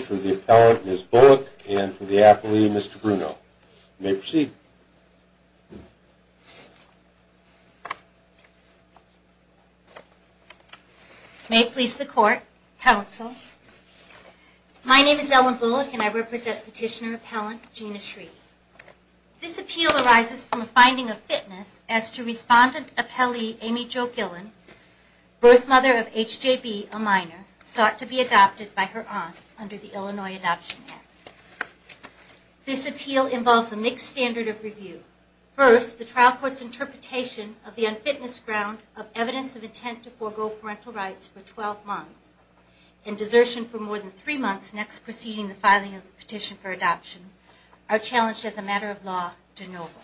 for the appellant, Ms. Bullock, and for the appellee, Mr. Bruno. You may proceed. May it please the Court, Counsel. My name is Ellen Bullock, and I represent Petitioner Appellant Gina Shreve. This appeal arises from a finding of fitness as to Respondent Appellee Amy Jo Gillen, birth mother of H.J.B., a minor, sought to be adopted by her aunt under the Illinois Adoption Act. This appeal involves a mixed standard of review. First, the trial court's interpretation of the unfitness ground of evidence of intent to forego parental rights for 12 months and desertion for more than three months next preceding the filing of the petition for adoption are challenged as a matter of law de novo.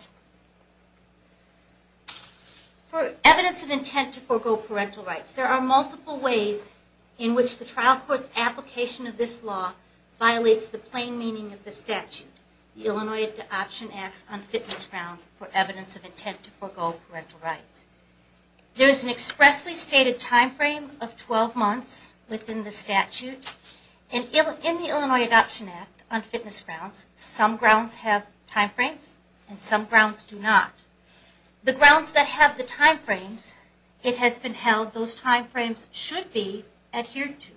For evidence of intent to forego parental rights, there are multiple ways in which the trial court's application of this law violates the plain meaning of the statute, the Illinois Adoption Act's unfitness ground for evidence of intent to forego parental rights. There is an expressly stated time frame of 12 months within the statute, and in the Illinois Adoption Act unfitness grounds, some grounds have time frames and some grounds do not. The grounds that have the time frames it has been held those time frames should be adhered to.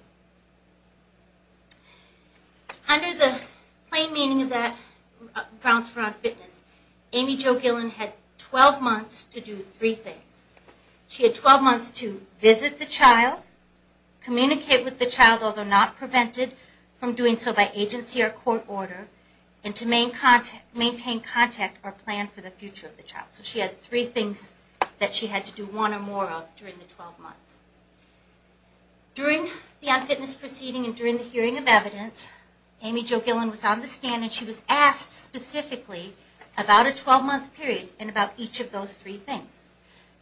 Under the plain meaning of that grounds for unfitness, Amy Jo Gillen had 12 months to do three things. She had 12 months to visit the child, communicate with the child although not prevented from doing so by agency or court order, and to maintain contact or plan for the future of the child. So she had three things that she had to do one or more of during the 12 months. During the unfitness proceeding and during the hearing of evidence, Amy Jo Gillen was on the stand and she was asked specifically about a 12 month period and about each of those three things.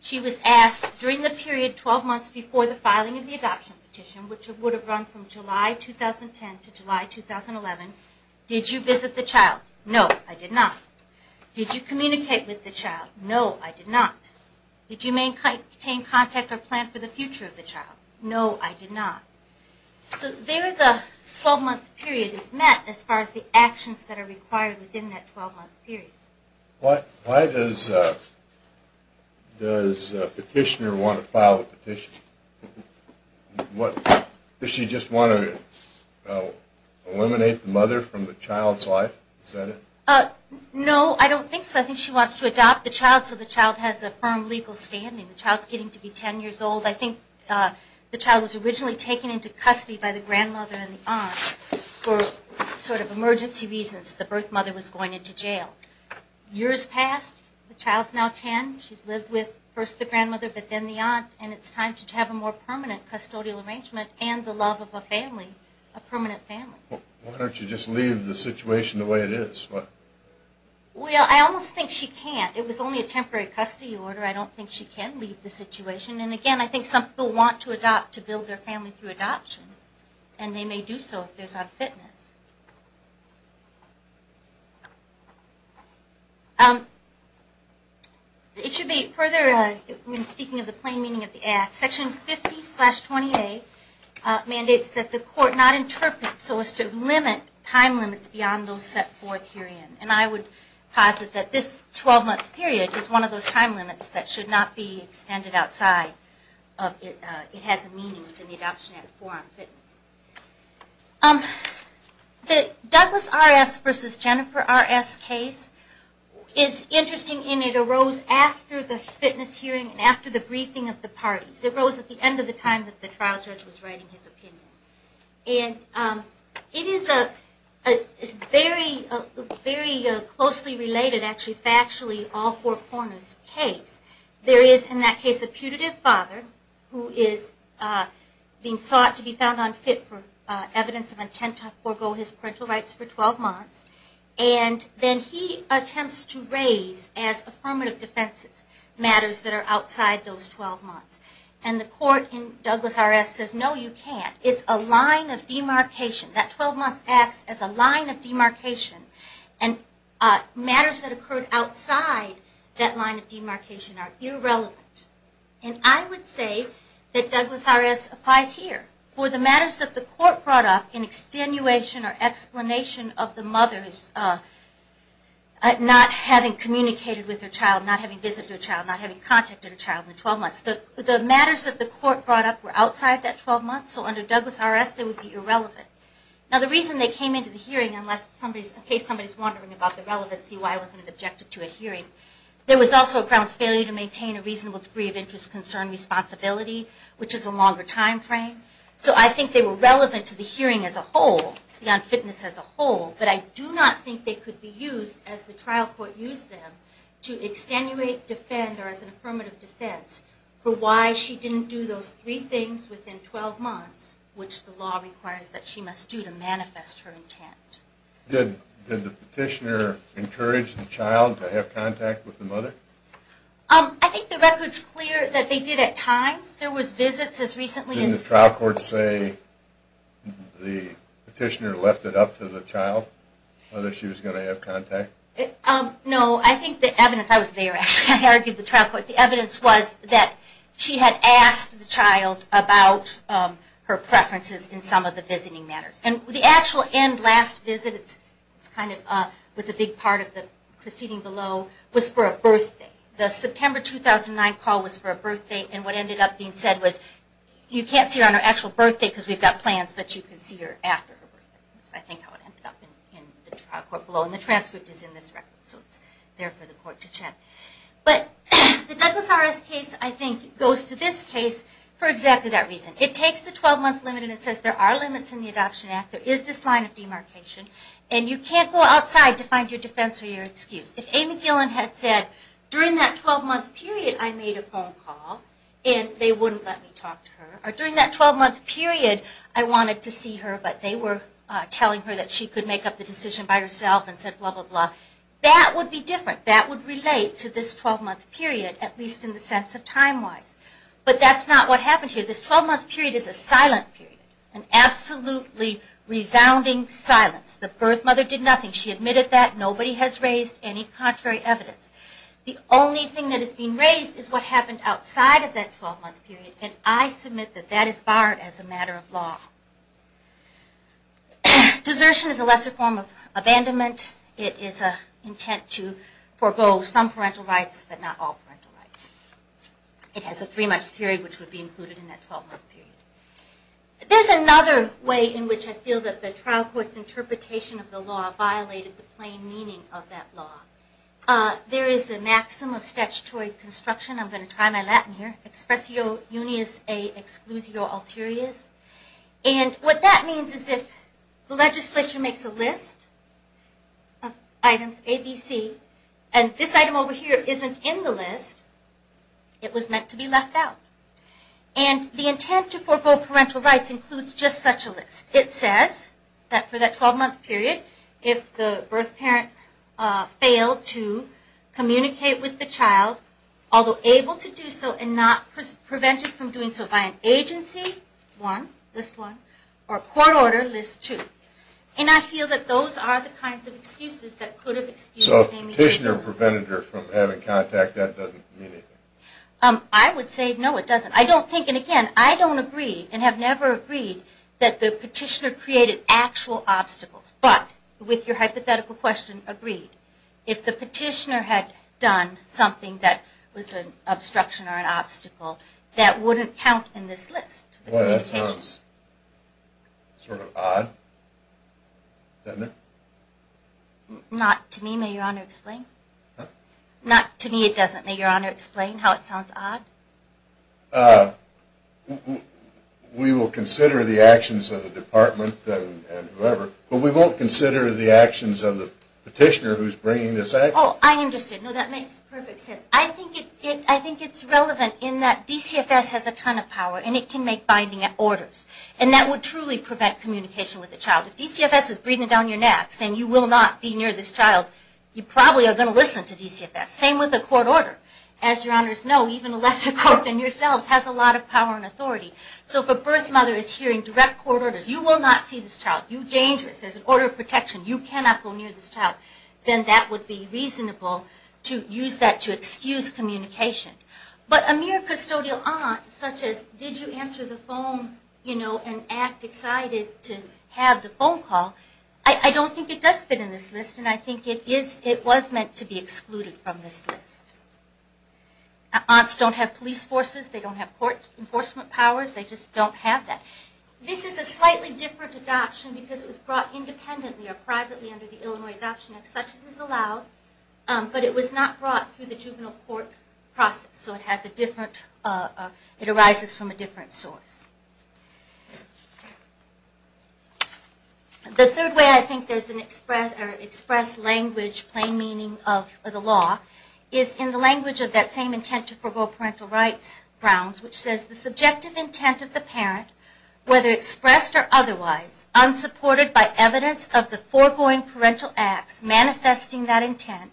She was asked during the period 12 months before the filing of the adoption petition, which would have run from July 2010 to July 2011, did you visit the child? No, I did not. Did you communicate with the child? No, I did not. Did you maintain contact or plan for the future of the child? No, I did not. So there the 12 month period is met as far as the actions that are required within that 12 month period. Why does a petitioner want to file a petition? Does she just want to eliminate the mother from the child's life? No, I don't think so. I think she wants to adopt the child so the child has a firm legal standing. The child is getting to be 10 years old. I think the child was originally taken into custody by the grandmother and the aunt for sort of emergency reasons. The birth mother was going into jail. Years passed. The child is now 10. She's lived with first the grandmother but then the aunt, and it's time to have a more permanent custodial arrangement and the love of a family, a permanent family. Why don't you just leave the situation the way it is? Well, I almost think she can't. It was only a temporary custody order. I don't think she can leave the situation. And again, I think some people want to adopt to build their family through adoption, and they may do so if there's unfitness. Section 50-20A mandates that the court not interpret so as to limit time limits beyond those set forth herein. And I would posit that this 12-month period is one of those time limits that should not be extended outside. It has a meaning within the Adoption Act for unfitness. The Douglas R.S. v. Jennifer R.S. case is interesting in it arose after the fitness hearing and after the briefing of the parties. It arose at the end of the time that the trial judge was writing his opinion. And it is very closely related actually factually all four corners case. There is in that case a putative father who is being sought to be found unfit for evidence of intent to forego his parental rights for 12 months. And then he attempts to raise as affirmative defense matters that are outside those 12 months. And the court in Douglas R.S. says no you can't. It's a line of demarcation. That 12 months acts as a line of demarcation. And matters that occurred outside that line of demarcation are irrelevant. And I would say that Douglas R.S. applies here. For the matters that the court brought up in extenuation or explanation of the mother's not having communicated with her child, not having visited her child, not having contacted her child in the 12 months. The matters that the court brought up were outside that 12 months. So under Douglas R.S. they would be irrelevant. Now the reason they came into the hearing, in case somebody is wondering about the relevancy why it wasn't an objective to a hearing, there was also a grounds failure to maintain a reasonable degree of interest, concern, responsibility, which is a longer time frame. So I think they were relevant to the hearing as a whole, beyond fitness as a whole. But I do not think they could be used, as the trial court used them, to extenuate, defend, or as an affirmative defense, for why she didn't do those three things within 12 months, which the law requires that she must do to manifest her intent. Did the petitioner encourage the child to have contact with the mother? I think the record is clear that they did at times. There was visits as recently as... Didn't the trial court say the petitioner left it up to the child, whether she was going to have contact? No, I think the evidence... I was there actually. I argued the trial court. The evidence was that she had asked the child about her preferences in some of the visiting matters. And the actual end, last visit, was a big part of the proceeding below, was for a birthday. The September 2009 call was for a birthday, and what ended up being said was, you can't see her on her actual birthday because we've got plans, but you can see her after her birthday. That's, I think, how it ended up in the trial court below. And the transcript is in this record, so it's there for the court to check. But the Douglas RS case, I think, goes to this case for exactly that reason. It takes the 12-month limit and it says there are limits in the Adoption Act. There is this line of demarcation. And you can't go outside to find your defense or your excuse. If Amy Gillen had said, during that 12-month period I made a phone call, and they wouldn't let me talk to her. Or during that 12-month period I wanted to see her, but they were telling her that she could make up the decision by herself and said blah, blah, blah. That would be different. That would relate to this 12-month period, at least in the sense of time-wise. But that's not what happened here. This 12-month period is a silent period, an absolutely resounding silence. The birth mother did nothing. She admitted that. Nobody has raised any contrary evidence. The only thing that has been raised is what happened outside of that 12-month period. And I submit that that is barred as a matter of law. Desertion is a lesser form of abandonment. It is an intent to forego some parental rights, but not all parental rights. It has a three-month period, which would be included in that 12-month period. There's another way in which I feel that the trial court's interpretation of the law violated the plain meaning of that law. There is a maxim of statutory construction. I'm going to try my Latin here. Expressio unius et exclusio alterius. And what that means is if the legislature makes a list of items A, B, C, and this item over here isn't in the list, it was meant to be left out. And the intent to forego parental rights includes just such a list. It says that for that 12-month period, if the birth parent failed to communicate with the child, although able to do so and not prevented from doing so by an agency, one, list one, or court order, list two. And I feel that those are the kinds of excuses that could have excused Amy So if the petitioner prevented her from having contact, that doesn't mean anything? I would say no, it doesn't. I don't think, and again, I don't agree and have never agreed that the petitioner created actual obstacles. But with your hypothetical question, agreed. If the petitioner had done something that was an obstruction or an obstacle, that wouldn't count in this list. Well, that sounds sort of odd, doesn't it? Not to me. May Your Honor explain? Not to me it doesn't. May Your Honor explain how it sounds odd? We will consider the actions of the department and whoever, but we won't consider the actions of the petitioner who's bringing this action. Oh, I understand. No, that makes perfect sense. I think it's relevant in that DCFS has a ton of power and it can make binding orders. And that would truly prevent communication with the child. If DCFS is breathing down your neck saying you will not be near this child, you probably are going to listen to DCFS. Same with a court order. As Your Honors know, even a lesser court than yourselves has a lot of power and authority. So if a birth mother is hearing direct court orders, you will not see this child, you're dangerous, there's an order of protection, you cannot go near this child, then that would be reasonable to use that to excuse communication. But a mere custodial aunt, such as did you answer the phone, you know, and act excited to have the phone call, I don't think it does fit in this list and I think it was meant to be excluded from this list. Aunts don't have police forces, they don't have enforcement powers, they just don't have that. This is a slightly different adoption because it was brought independently or adoption of such as is allowed, but it was not brought through the juvenile court process. So it has a different, it arises from a different source. The third way I think there's an expressed language, plain meaning of the law, is in the language of that same intent to forego parental rights grounds, which says the subjective intent of the parent, whether expressed or otherwise, unsupported by evidence of the foregoing parental acts manifesting that intent,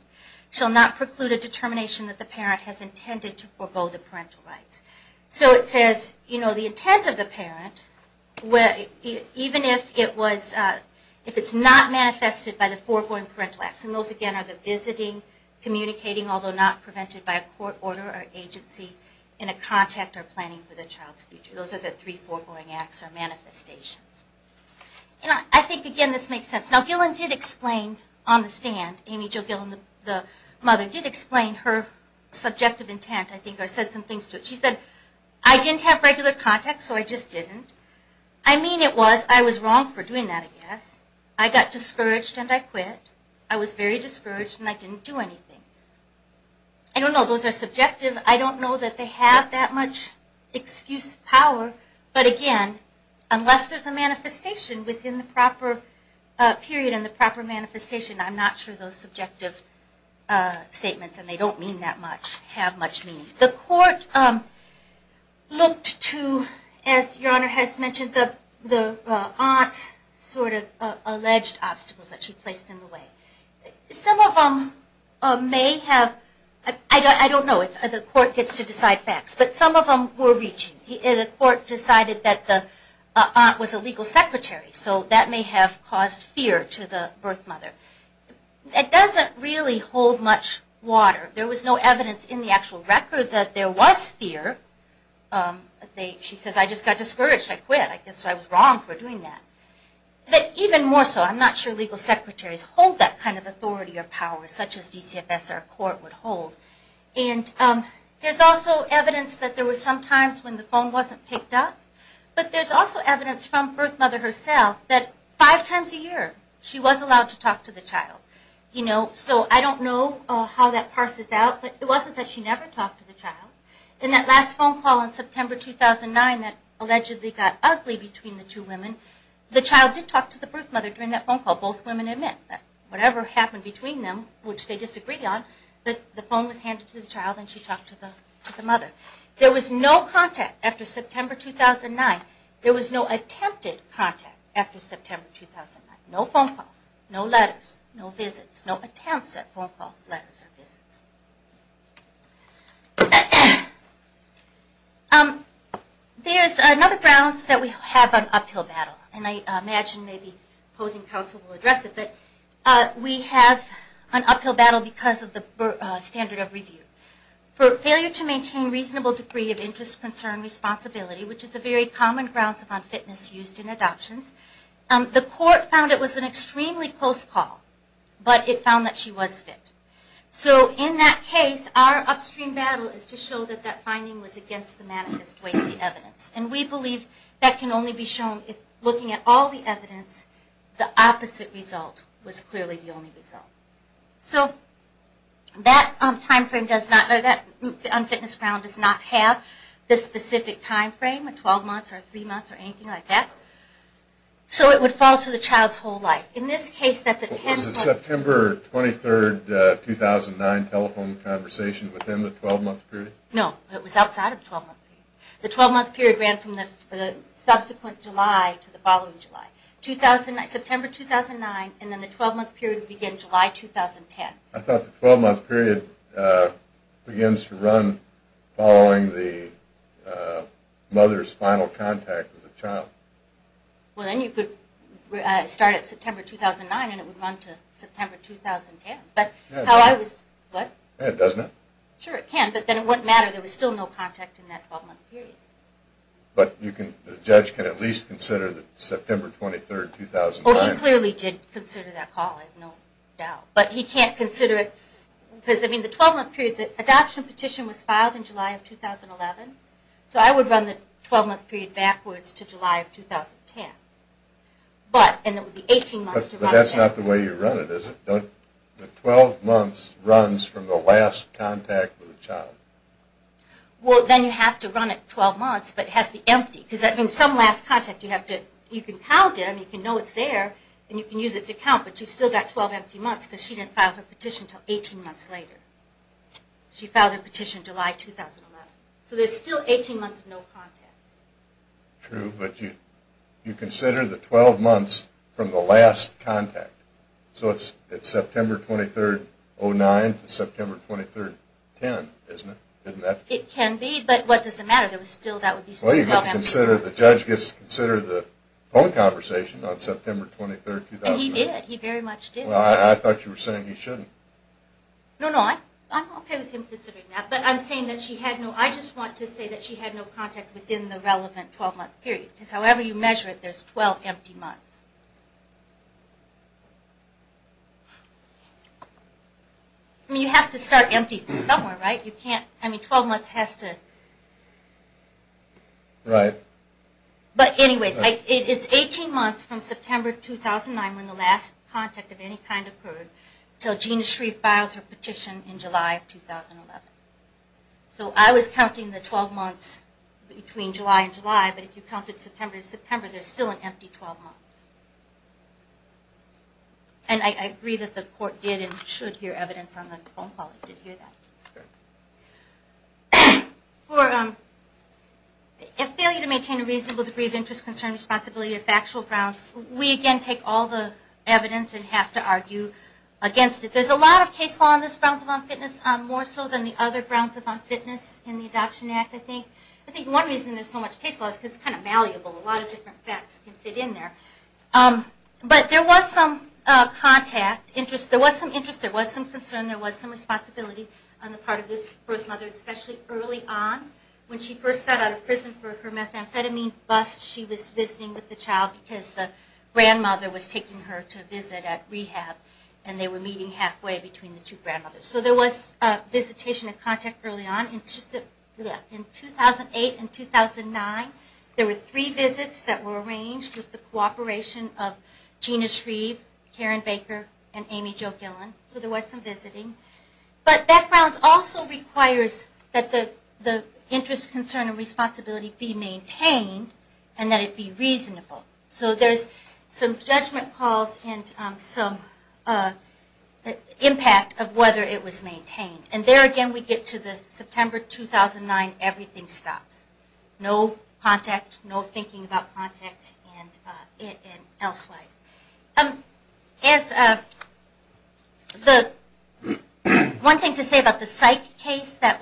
shall not preclude a determination that the parent has intended to forego the parental rights. So it says, you know, the intent of the parent, even if it was, if it's not manifested by the foregoing parental acts, and those again are the visiting, communicating, although not prevented by a court order or agency in a contact or planning for the child's future. Those are the three foregoing acts or manifestations. And I think, again, this makes sense. Now Gillen did explain on the stand, Amy Jo Gillen, the mother, did explain her subjective intent. I think I said some things to it. She said, I didn't have regular contact, so I just didn't. I mean it was I was wrong for doing that, I guess. I got discouraged and I quit. I was very discouraged and I didn't do anything. I don't know. Those are subjective. I don't know that they have that much excuse power, but, again, unless there's a manifestation within the proper period and the proper manifestation, I'm not sure those subjective statements, and they don't mean that much, have much meaning. The court looked to, as Your Honor has mentioned, the aunt's sort of alleged obstacles that she placed in the way. Some of them may have, I don't know, the court gets to decide facts, but some of them were reaching. The court decided that the aunt was a legal secretary, so that may have caused fear to the birth mother. It doesn't really hold much water. There was no evidence in the actual record that there was fear. She says, I just got discouraged, I quit. I guess I was wrong for doing that. Even more so, I'm not sure legal secretaries hold that kind of authority or power such as DCFS or a court would hold. There's also evidence that there were some times when the phone wasn't picked up, but there's also evidence from birth mother herself that five times a year she was allowed to talk to the child. So I don't know how that parses out, but it wasn't that she never talked to the child. In that last phone call in September 2009 that allegedly got ugly between the two women, the child did talk to the birth mother during that phone call, both women and men. Whatever happened between them, which they disagreed on, the phone was handed to the child and she talked to the mother. There was no contact after September 2009. There was no attempted contact after September 2009. No phone calls, no letters, no visits, no attempts at phone calls, letters, or visits. There's another grounds that we have on uphill battle, and I imagine maybe opposing counsel will address it, but we have an uphill battle because of the standard of review. For failure to maintain reasonable degree of interest, concern, responsibility, which is a very common grounds of unfitness used in adoptions, the court found it was an extremely close call, but it found that she was fit. In that case, our upstream battle is to show that that finding was against the manifest way of the evidence. We believe that can only be shown if looking at all the evidence, the opposite result was clearly the only result. That unfitness ground does not have the specific time frame, 12 months or three months or anything like that, so it would fall to the child's whole life. Was the September 23, 2009 telephone conversation within the 12-month period? No, it was outside of the 12-month period. The 12-month period ran from the subsequent July to the following July. September 2009, and then the 12-month period began July 2010. I thought the 12-month period begins to run following the mother's final contact with the child. Well, then you could start at September 2009 and it would run to September 2010. Sure, it can, but then it wouldn't matter. There was still no contact in that 12-month period. But the judge can at least consider the September 23, 2009. Well, he clearly did consider that call, I have no doubt, but he can't consider it because the 12-month period, the adoption petition was filed in July of 2011, so I would run the 12-month period backwards to July of 2010. But, and it would be 18 months to run again. But that's not the way you run it, is it? The 12 months runs from the last contact with the child. Well, then you have to run it 12 months, but it has to be empty, because in some last contact you can count it and you can know it's there and you can use it to count, but you've still got 12 empty months because she didn't file her petition until 18 months later. She filed her petition July 2011. So there's still 18 months of no contact. True, but you consider the 12 months from the last contact. So it's September 23, 2009 to September 23, 2010, isn't it? It can be, but what does it matter? The judge gets to consider the phone conversation on September 23, 2009. And he did, he very much did. Well, I thought you were saying he shouldn't. No, no, I'm okay with him considering that, but I'm saying that she had no contact within the relevant 12-month period, because however you measure it, there's 12 empty months. I mean, you have to start empty from somewhere, right? You can't, I mean, 12 months has to. Right. But anyways, it is 18 months from September 2009 when the last contact of any kind occurred until Gina Shreve filed her petition in July 2011. So I was counting the 12 months between July and July, but if you counted September to September, there's still an empty 12 months. And I agree that the court did and should hear evidence on the phone call. It did hear that. For a failure to maintain a reasonable degree of interest, concern, responsibility, or factual grounds, we again take all the evidence and have to argue against it. There's a lot of case law in this grounds of unfitness, more so than the other grounds of unfitness in the Adoption Act, I think. I think one reason there's so much case law is because it's kind of malleable. A lot of different facts can fit in there. But there was some contact, there was some interest, there was some concern, there was some responsibility on the part of this birth mother, especially early on when she first got out of prison for her methamphetamine bust. She was visiting with the child because the grandmother was taking her to school. So there was a visitation and contact early on. In 2008 and 2009, there were three visits that were arranged with the cooperation of Gina Shreve, Karen Baker, and Amy Jo Gillen. So there was some visiting. But that grounds also requires that the interest, concern, and responsibility be maintained and that it be reasonable. So there's some judgment calls and some impact of whether it was maintained. And there again we get to the September 2009, everything stops. No contact, no thinking about contact, and elsewise. As the one thing to say about the psych case that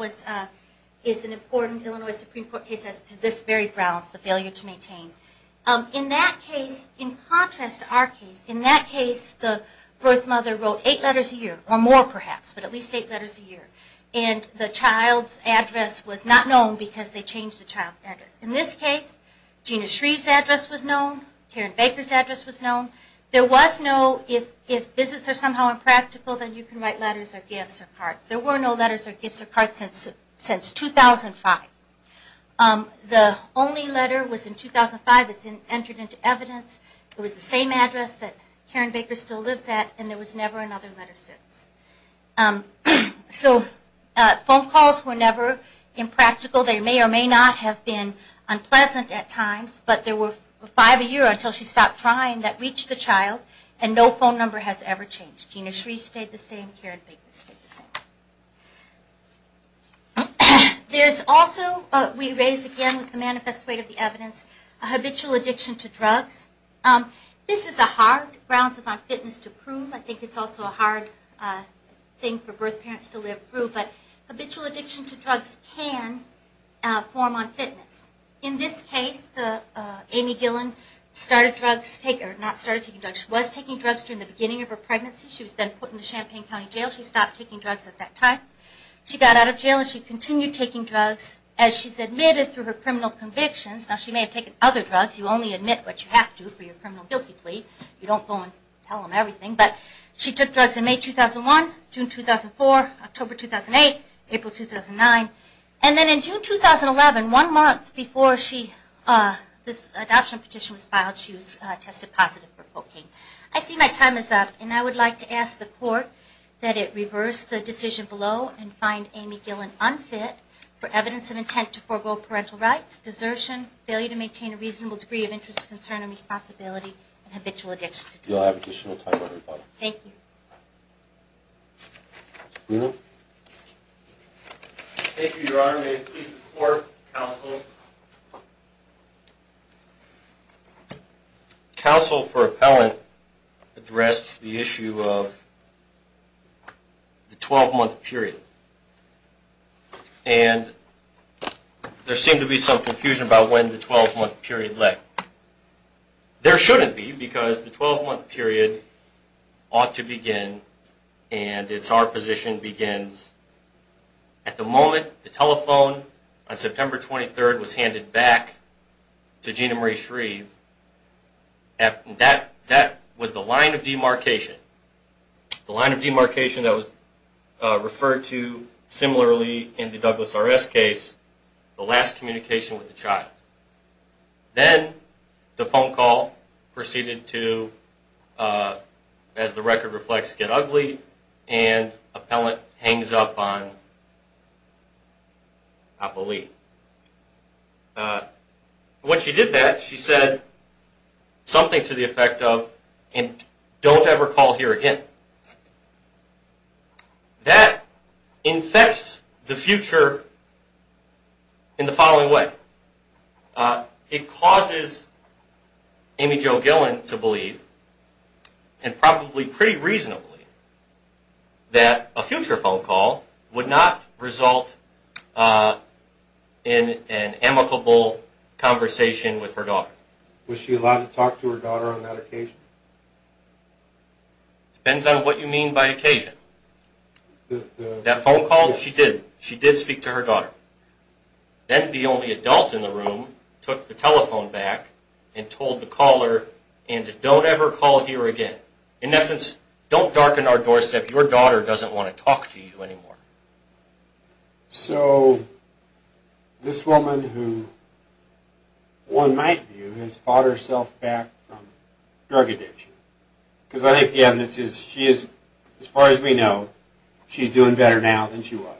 is an important Illinois Supreme Court case as to this very grounds, the failure to contrast our case. In that case, the birth mother wrote eight letters a year, or more perhaps, but at least eight letters a year. And the child's address was not known because they changed the child's In this case, Gina Shreve's address was known. Karen Baker's address was known. There was no, if visits are somehow impractical, then you can write letters or gifts or cards. There were no letters or gifts or cards since 2005. The only letter was in 2005. It's entered into evidence. It was the same address that Karen Baker still lives at, and there was never another letter since. So phone calls were never impractical. They may or may not have been unpleasant at times, but there were five a year until she stopped trying that reached the child, and no phone number has ever changed. Gina Shreve stayed the same. Karen Baker stayed the same. There's also, we raised again with the manifest weight of the evidence, a habitual addiction to drugs. This is a hard grounds of unfitness to prove. I think it's also a hard thing for birth parents to live through, but habitual addiction to drugs can form unfitness. In this case, Amy Gillan started drugs, or not started taking drugs, she was taking drugs during the beginning of her pregnancy. She was then put into Champaign County Jail. She stopped taking drugs at that point. She got out of jail and she continued taking drugs as she's admitted through her criminal convictions. Now she may have taken other drugs. You only admit what you have to for your criminal guilty plea. You don't go and tell them everything. But she took drugs in May 2001, June 2004, October 2008, April 2009, and then in June 2011, one month before this adoption petition was filed, she was tested positive for cocaine. I see my time is up, and I would like to ask the court that it reverse the decision below and find Amy Gillan unfit for evidence of intent to forego parental rights, desertion, failure to maintain a reasonable degree of interest, concern, or responsibility, and habitual addiction to drugs. You'll have additional time on the rebuttal. Thank you. Bruno? Thank you, Your Honor. May it please the court, counsel. Counsel for appellant addressed the issue of the 12-month period, and there seemed to be some confusion about when the 12-month period led. There shouldn't be, because the 12-month period ought to begin, and it's our position begins at the moment the telephone on September 23rd was handed back to Gina Marie Shreve. That was the line of demarcation, the line of demarcation that was referred to similarly in the Douglas RS case, the last communication with the child. Then the phone call proceeded to, as the record reflects, get ugly, and appellant hangs up on Appali. When she did that, she said something to the effect of, and don't ever call here again. That infects the future in the following way. It causes Amy Jo Gillen to believe, and probably pretty reasonably, that a future phone call would not result in an amicable conversation with her daughter. Was she allowed to talk to her daughter on that occasion? Depends on what you mean by occasion. That phone call, she did. She did speak to her daughter. Then the only adult in the room took the telephone back and told the caller, and don't ever call here again. In essence, don't darken our doorstep. Your daughter doesn't want to talk to you anymore. So this woman who one might view has fought herself back from drug addiction, because I think the evidence is she is, as far as we know, she's doing better now than she was.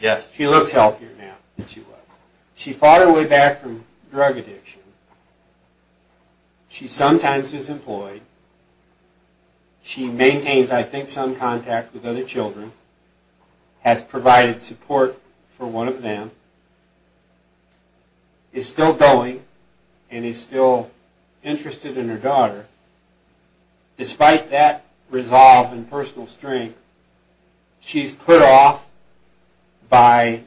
Yes. She looks healthier now than she was. She fought her way back from drug addiction. She sometimes is employed. She maintains, I think, some contact with other children, has provided support for one of them, is still going, and is still interested in her daughter. Despite that resolve and personal strength, she's put off by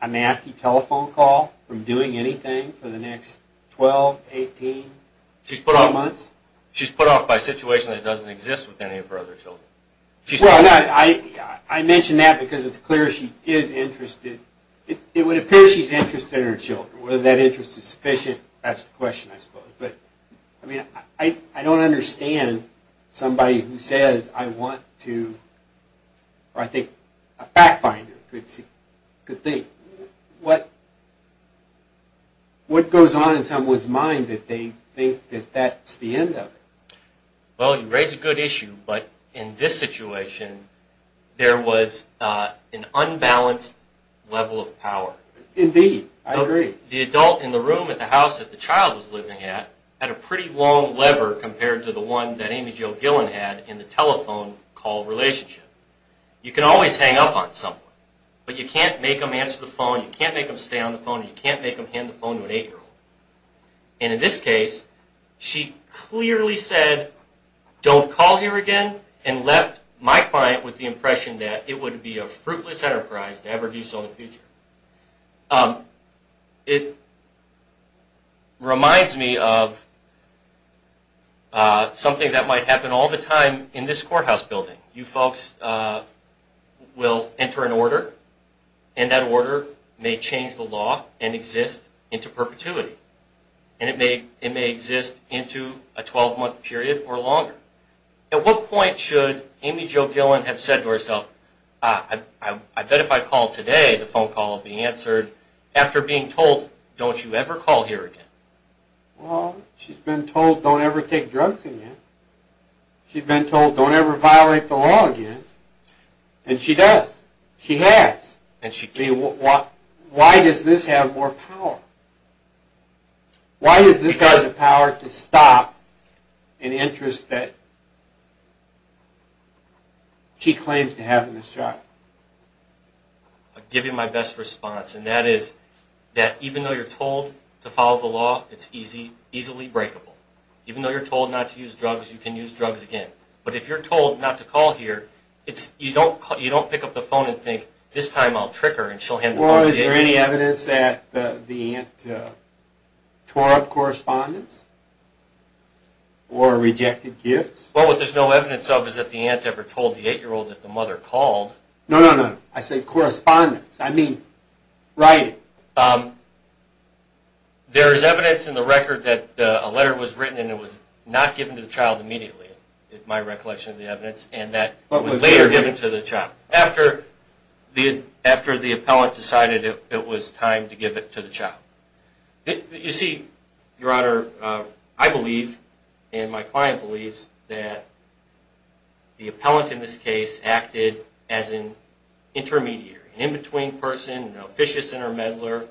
a nasty telephone call from doing anything for the next 12, 18 months? She's put off by a situation that doesn't exist with any of her other children. I mention that because it's clear she is interested. It would appear she's interested in her children. Whether that interest is sufficient, that's the question, I suppose. I don't understand somebody who says, I want to, or I think a fact finder could think, what goes on in someone's mind that they think that that's the end of it? Well, you raise a good issue, but in this situation, there was an unbalanced level of power. Indeed, I agree. The adult in the room at the house that the child was living at, had a pretty long lever compared to the one that Amy Jo Gillen had in the telephone call relationship. You can always hang up on someone, but you can't make them answer the phone, you can't make them stay on the phone, and you can't make them hand the phone to an eight-year-old. In this case, she clearly said, don't call here again, and left my client with the impression that it would be a fruitless enterprise to ever do so in the future. It reminds me of something that might happen all the time in this courthouse building. You folks will enter an order, and that order may change the law and exist into perpetuity, and it may exist into a 12-month period or longer. At what point should Amy Jo Gillen have said to herself, I bet if I call today, the phone call will be answered, after being told, don't you ever call here again? Well, she's been told, don't ever take drugs again. She's been told, don't ever violate the law again. And she does. She has. Why does this have more power? Why does this have the power to stop an interest that she claims to have in this child? I'll give you my best response, and that is that even though you're told to follow the law, it's easily breakable. Even though you're told not to use drugs, you can use drugs again. But if you're told not to call here, you don't pick up the phone and think, this time I'll trick her and she'll hand the phone to me again. Now, is there any evidence that the aunt tore up correspondence? Or rejected gifts? Well, what there's no evidence of is that the aunt ever told the 8-year-old that the mother called. No, no, no. I said correspondence. I mean, writing. There is evidence in the record that a letter was written, and it was not given to the child immediately, in my recollection of the evidence, and that it was later given to the child. After the appellant decided it was time to give it to the child. You see, Your Honor, I believe, and my client believes, that the appellant in this case acted as an intermediary, an in-between person, an officious intermeddler,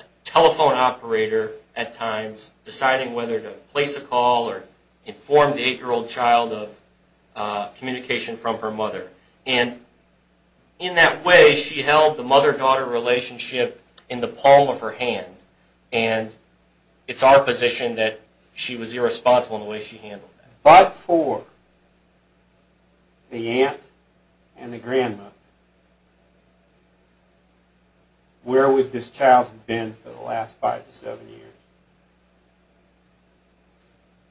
a telephone operator at times, deciding whether to place a call or inform the 8-year-old child of communication from her mother. And in that way, she held the mother-daughter relationship in the palm of her hand. And it's our position that she was irresponsible in the way she handled that. But for the aunt and the grandma, where would this child have been for the last 5 to 7 years?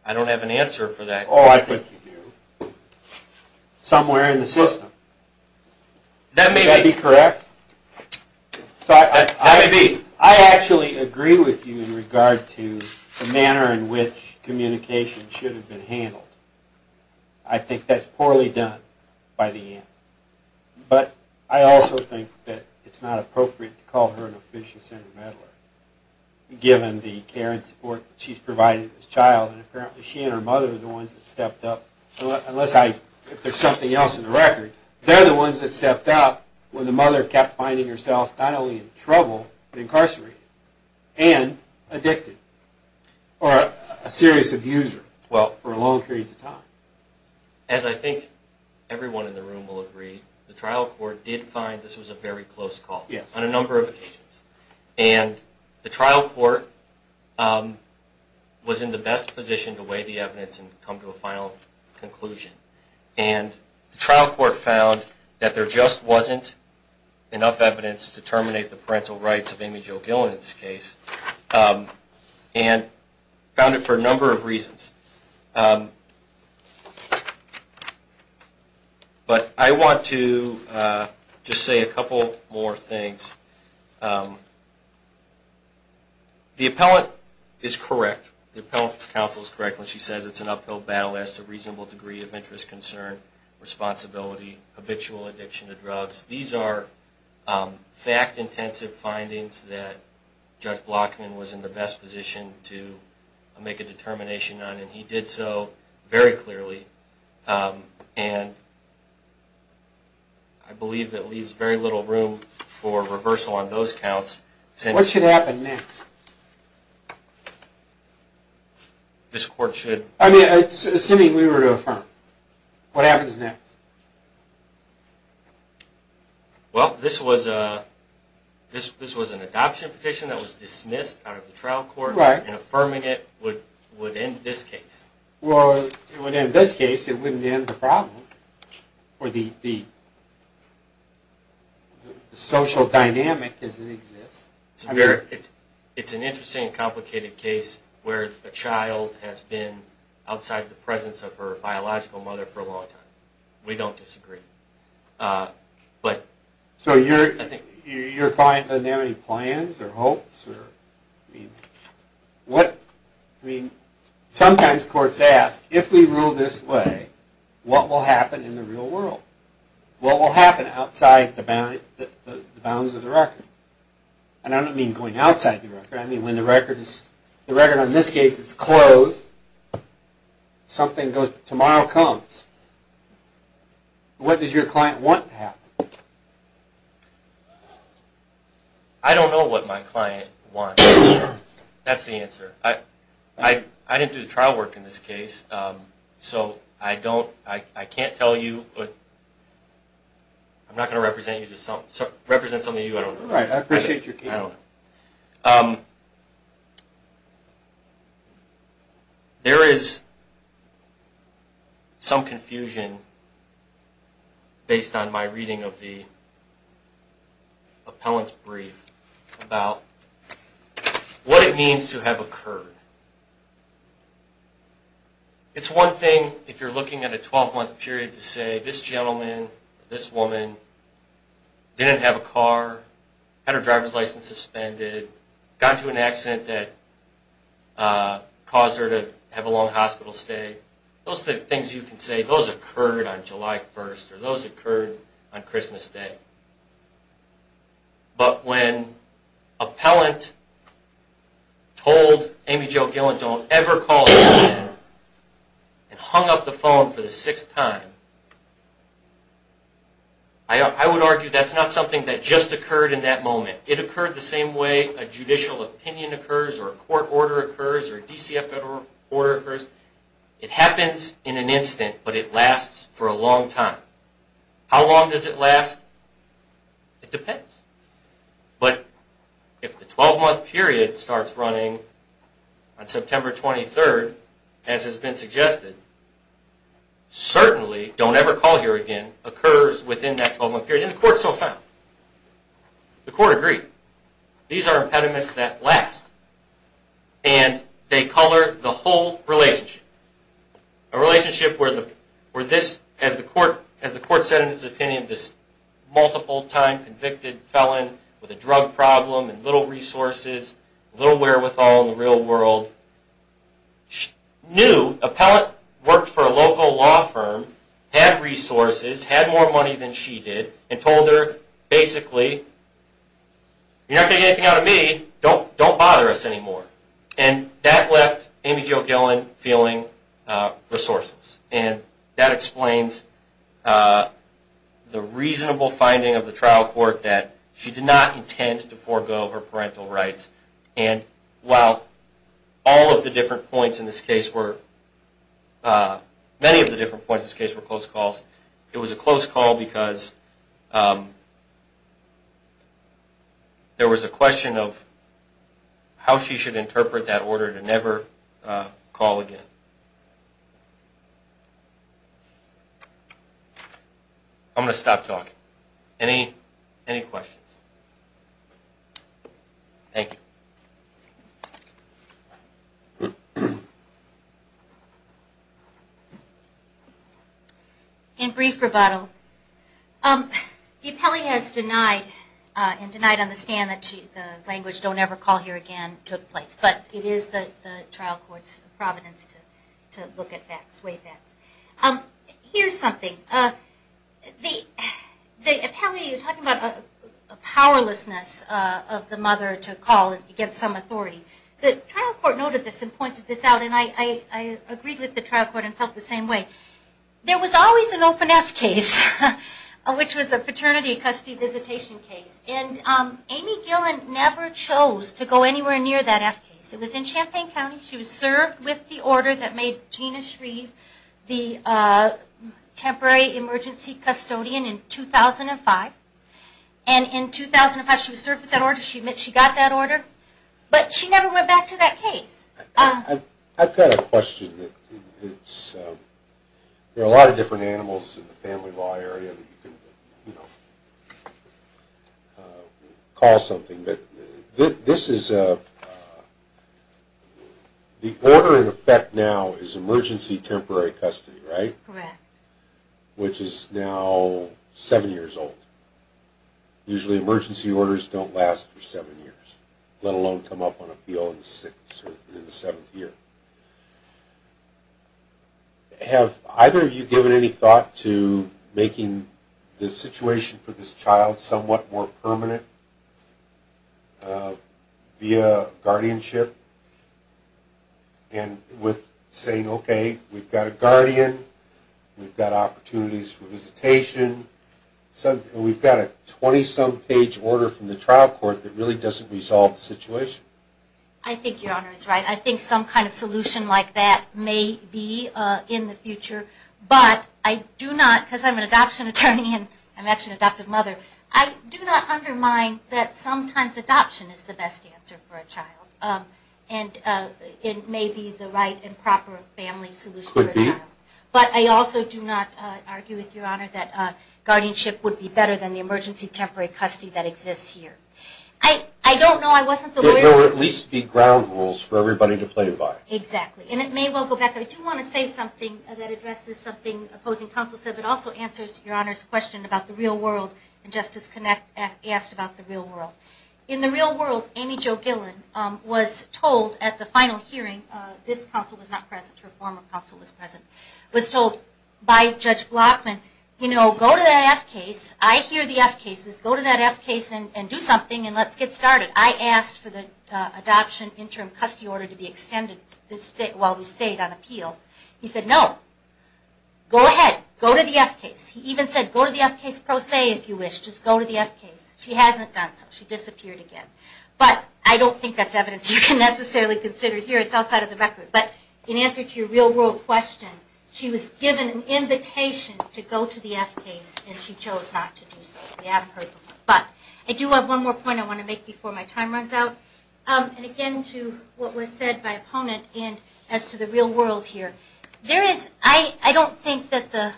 I don't have an answer for that. Oh, I think you do. Somewhere in the system. That may be. Would that be correct? That may be. I actually agree with you in regard to the manner in which communication should have been handled. I think that's poorly done by the aunt. But I also think that it's not appropriate to call her an officious intermeddler, given the care and support that she's provided to this child. And apparently she and her mother are the ones that stepped up, unless there's something else in the record. They're the ones that stepped up when the mother kept finding herself not only in trouble, but incarcerated and addicted or a serious abuser for long periods of time. As I think everyone in the room will agree, the trial court did find this was a very close call on a number of occasions. And the trial court was in the best position to weigh the evidence and come to a final conclusion. And the trial court found that there just wasn't enough evidence to terminate the parental rights of Amy Jo Gill in this case, and found it for a number of reasons. But I want to just say a couple more things. The appellate is correct. The appellate's counsel is correct when she says it's an uphill battle as to reasonable degree of interest, concern, responsibility, habitual addiction to drugs. These are fact-intensive findings that Judge Blockman was in the best position to make a determination on, and he did so very clearly. And I believe it leaves very little room for reversal on those counts. What should happen next? This court should... I mean, assuming we were to affirm, what happens next? Well, this was an adoption petition that was dismissed out of the trial court. Right. And affirming it would end this case. Well, it would end this case. It wouldn't end the problem or the social dynamic as it exists. It's an interesting and complicated case where a child has been outside the presence of her biological mother for a long time. We don't disagree. So your client doesn't have any plans or hopes? Sometimes courts ask, if we rule this way, what will happen in the real world? What will happen outside the bounds of the record? The record on this case is closed. Tomorrow comes. What does your client want to happen? I don't know what my client wants. That's the answer. I didn't do the trial work in this case, so I can't tell you. I'm not going to represent some of you. I don't know. I appreciate your case. I don't know. There is some confusion, based on my reading of the appellant's brief, about what it means to have occurred. It's one thing, if you're looking at a 12-month period, to say this gentleman or this woman didn't have a car, had her driver's license suspended, got into an accident that caused her to have a long hospital stay. Those are the things you can say, those occurred on July 1st or those occurred on Christmas Day. But when an appellant told Amy Jo Gilland, don't ever call again, and hung up the phone for the sixth time, I would argue that's not something that just occurred in that moment. It occurred the same way a judicial opinion occurs or a court order occurs or a DCF federal order occurs. It happens in an instant, but it lasts for a long time. How long does it last? It depends. But if the 12-month period starts running on September 23rd, as has been suggested, certainly, don't ever call here again, occurs within that 12-month period, and the court so found. The court agreed. These are impediments that last, and they color the whole relationship. A relationship where, as the court said in its opinion, this multiple-time convicted felon with a drug problem and little resources, little wherewithal in the real world, knew an appellant worked for a local law firm, had resources, had more money than she did, and told her, basically, you're not going to get anything out of me, don't bother us anymore. That left Amy Jo Gillen feeling resourceless, and that explains the reasonable finding of the trial court that she did not intend to forego her parental rights. While all of the different points in this case were, many of the different points in this case were close calls, it was a close call because there was a question of how she should interpret that order to never call again. I'm going to stop talking. Any questions? Thank you. In brief rebuttal, the appellee has denied, and denied on the stand that the language, don't ever call here again, took place, but it is the trial court's providence to look at facts, weigh facts. Here's something, the appellee, you're talking about a powerlessness of the mother to call against some authority. The trial court noted this and pointed this out, and I agreed with the trial court and felt the same way. There was always an open F case, which was a paternity custody visitation case, and Amy Gillen never chose to go anywhere near that F case. It was in Champaign County. She was served with the order that made Gina Shreve the temporary emergency custodian in 2005, and in 2005 she was served with that order. She admits she got that order, but she never went back to that case. I've got a question. There are a lot of different animals in the family law area that you can, you know, call something, but this is a, the order in effect now is emergency temporary custody, right? Correct. Which is now seven years old. Usually emergency orders don't last for seven years, let alone come up on appeal in the seventh year. Have either of you given any thought to making the situation for this child somewhat more permanent via guardianship? And with saying, okay, we've got a guardian, we've got opportunities for visitation, we've got a 20-some page order from the trial court that really doesn't resolve the situation? I think Your Honor is right. I think some kind of solution like that may be in the future, but I do not, because I'm an adoption attorney and I'm actually an adoptive mother, I do not undermine that sometimes adoption is the best answer for a child, and it may be the right and proper family solution for a child. Could be. But I also do not argue with Your Honor that guardianship would be better than the emergency temporary custody that exists here. I don't know, I wasn't the lawyer. There will at least be ground rules for everybody to play by. Exactly. And it may well go back. I do want to say something that addresses something opposing counsel said, but also answers Your Honor's question about the real world and Justice Connett asked about the real world. In the real world, Amy Jo Gillen was told at the final hearing, this counsel was not present, her former counsel was present, was told by Judge Blockman, you know, go to that F case. I hear the F cases. Go to that F case and do something and let's get started. I asked for the adoption interim custody order to be extended while we stayed on appeal. He said no. Go ahead. Go to the F case. He even said go to the F case pro se if you wish. Just go to the F case. She hasn't done so. She disappeared again. But I don't think that's evidence you can necessarily consider here. It's outside of the record. But in answer to your real world question, she was given an invitation to go to the F case and she chose not to do so. We haven't heard from her. But I do have one more point I want to make before my time runs out. And again, to what was said by opponent and as to the real world here. There is, I don't think that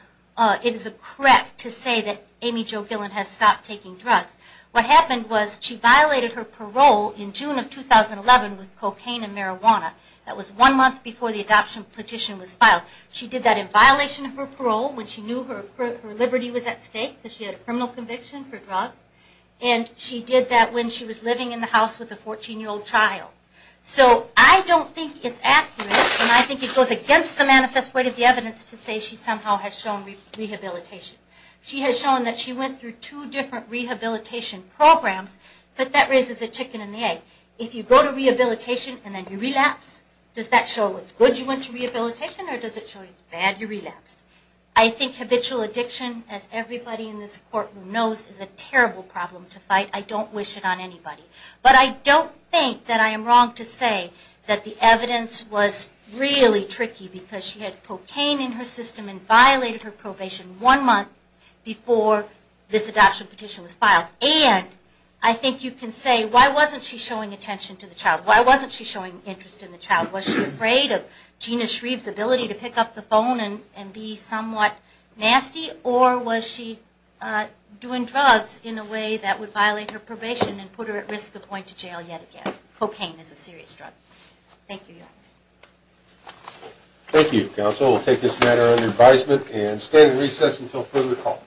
it is correct to say that Amy Jo Gillen has stopped taking drugs. What happened was she violated her parole in June of 2011 with cocaine and marijuana. That was one month before the adoption petition was filed. She did that in violation of her parole when she knew her liberty was at stake, because she had a criminal conviction for drugs. And she did that when she was living in the house with a 14-year-old child. So I don't think it's accurate and I think it goes against the manifest way of the evidence to say she somehow has shown rehabilitation. She has shown that she went through two different rehabilitation programs, but that raises a chicken and the egg. If you go to rehabilitation and then you relapse, does that show it's good you went to rehabilitation or does it show it's bad you relapsed? I think habitual addiction, as everybody in this courtroom knows, is a terrible problem to fight. I don't wish it on anybody. But I don't think that I am wrong to say that the evidence was really tricky because she had cocaine in her system and violated her probation one month before this adoption petition was filed. And I think you can say, why wasn't she showing attention to the child? Why wasn't she showing interest in the child? Was she afraid of Gina Shreve's ability to pick up the phone and be somewhat nasty? Or was she doing drugs in a way that would violate her probation and put her at risk of going to jail yet again? Cocaine is a serious drug. Thank you, Your Honors. Thank you, counsel. We'll take this matter under advisement and stand in recess until further call.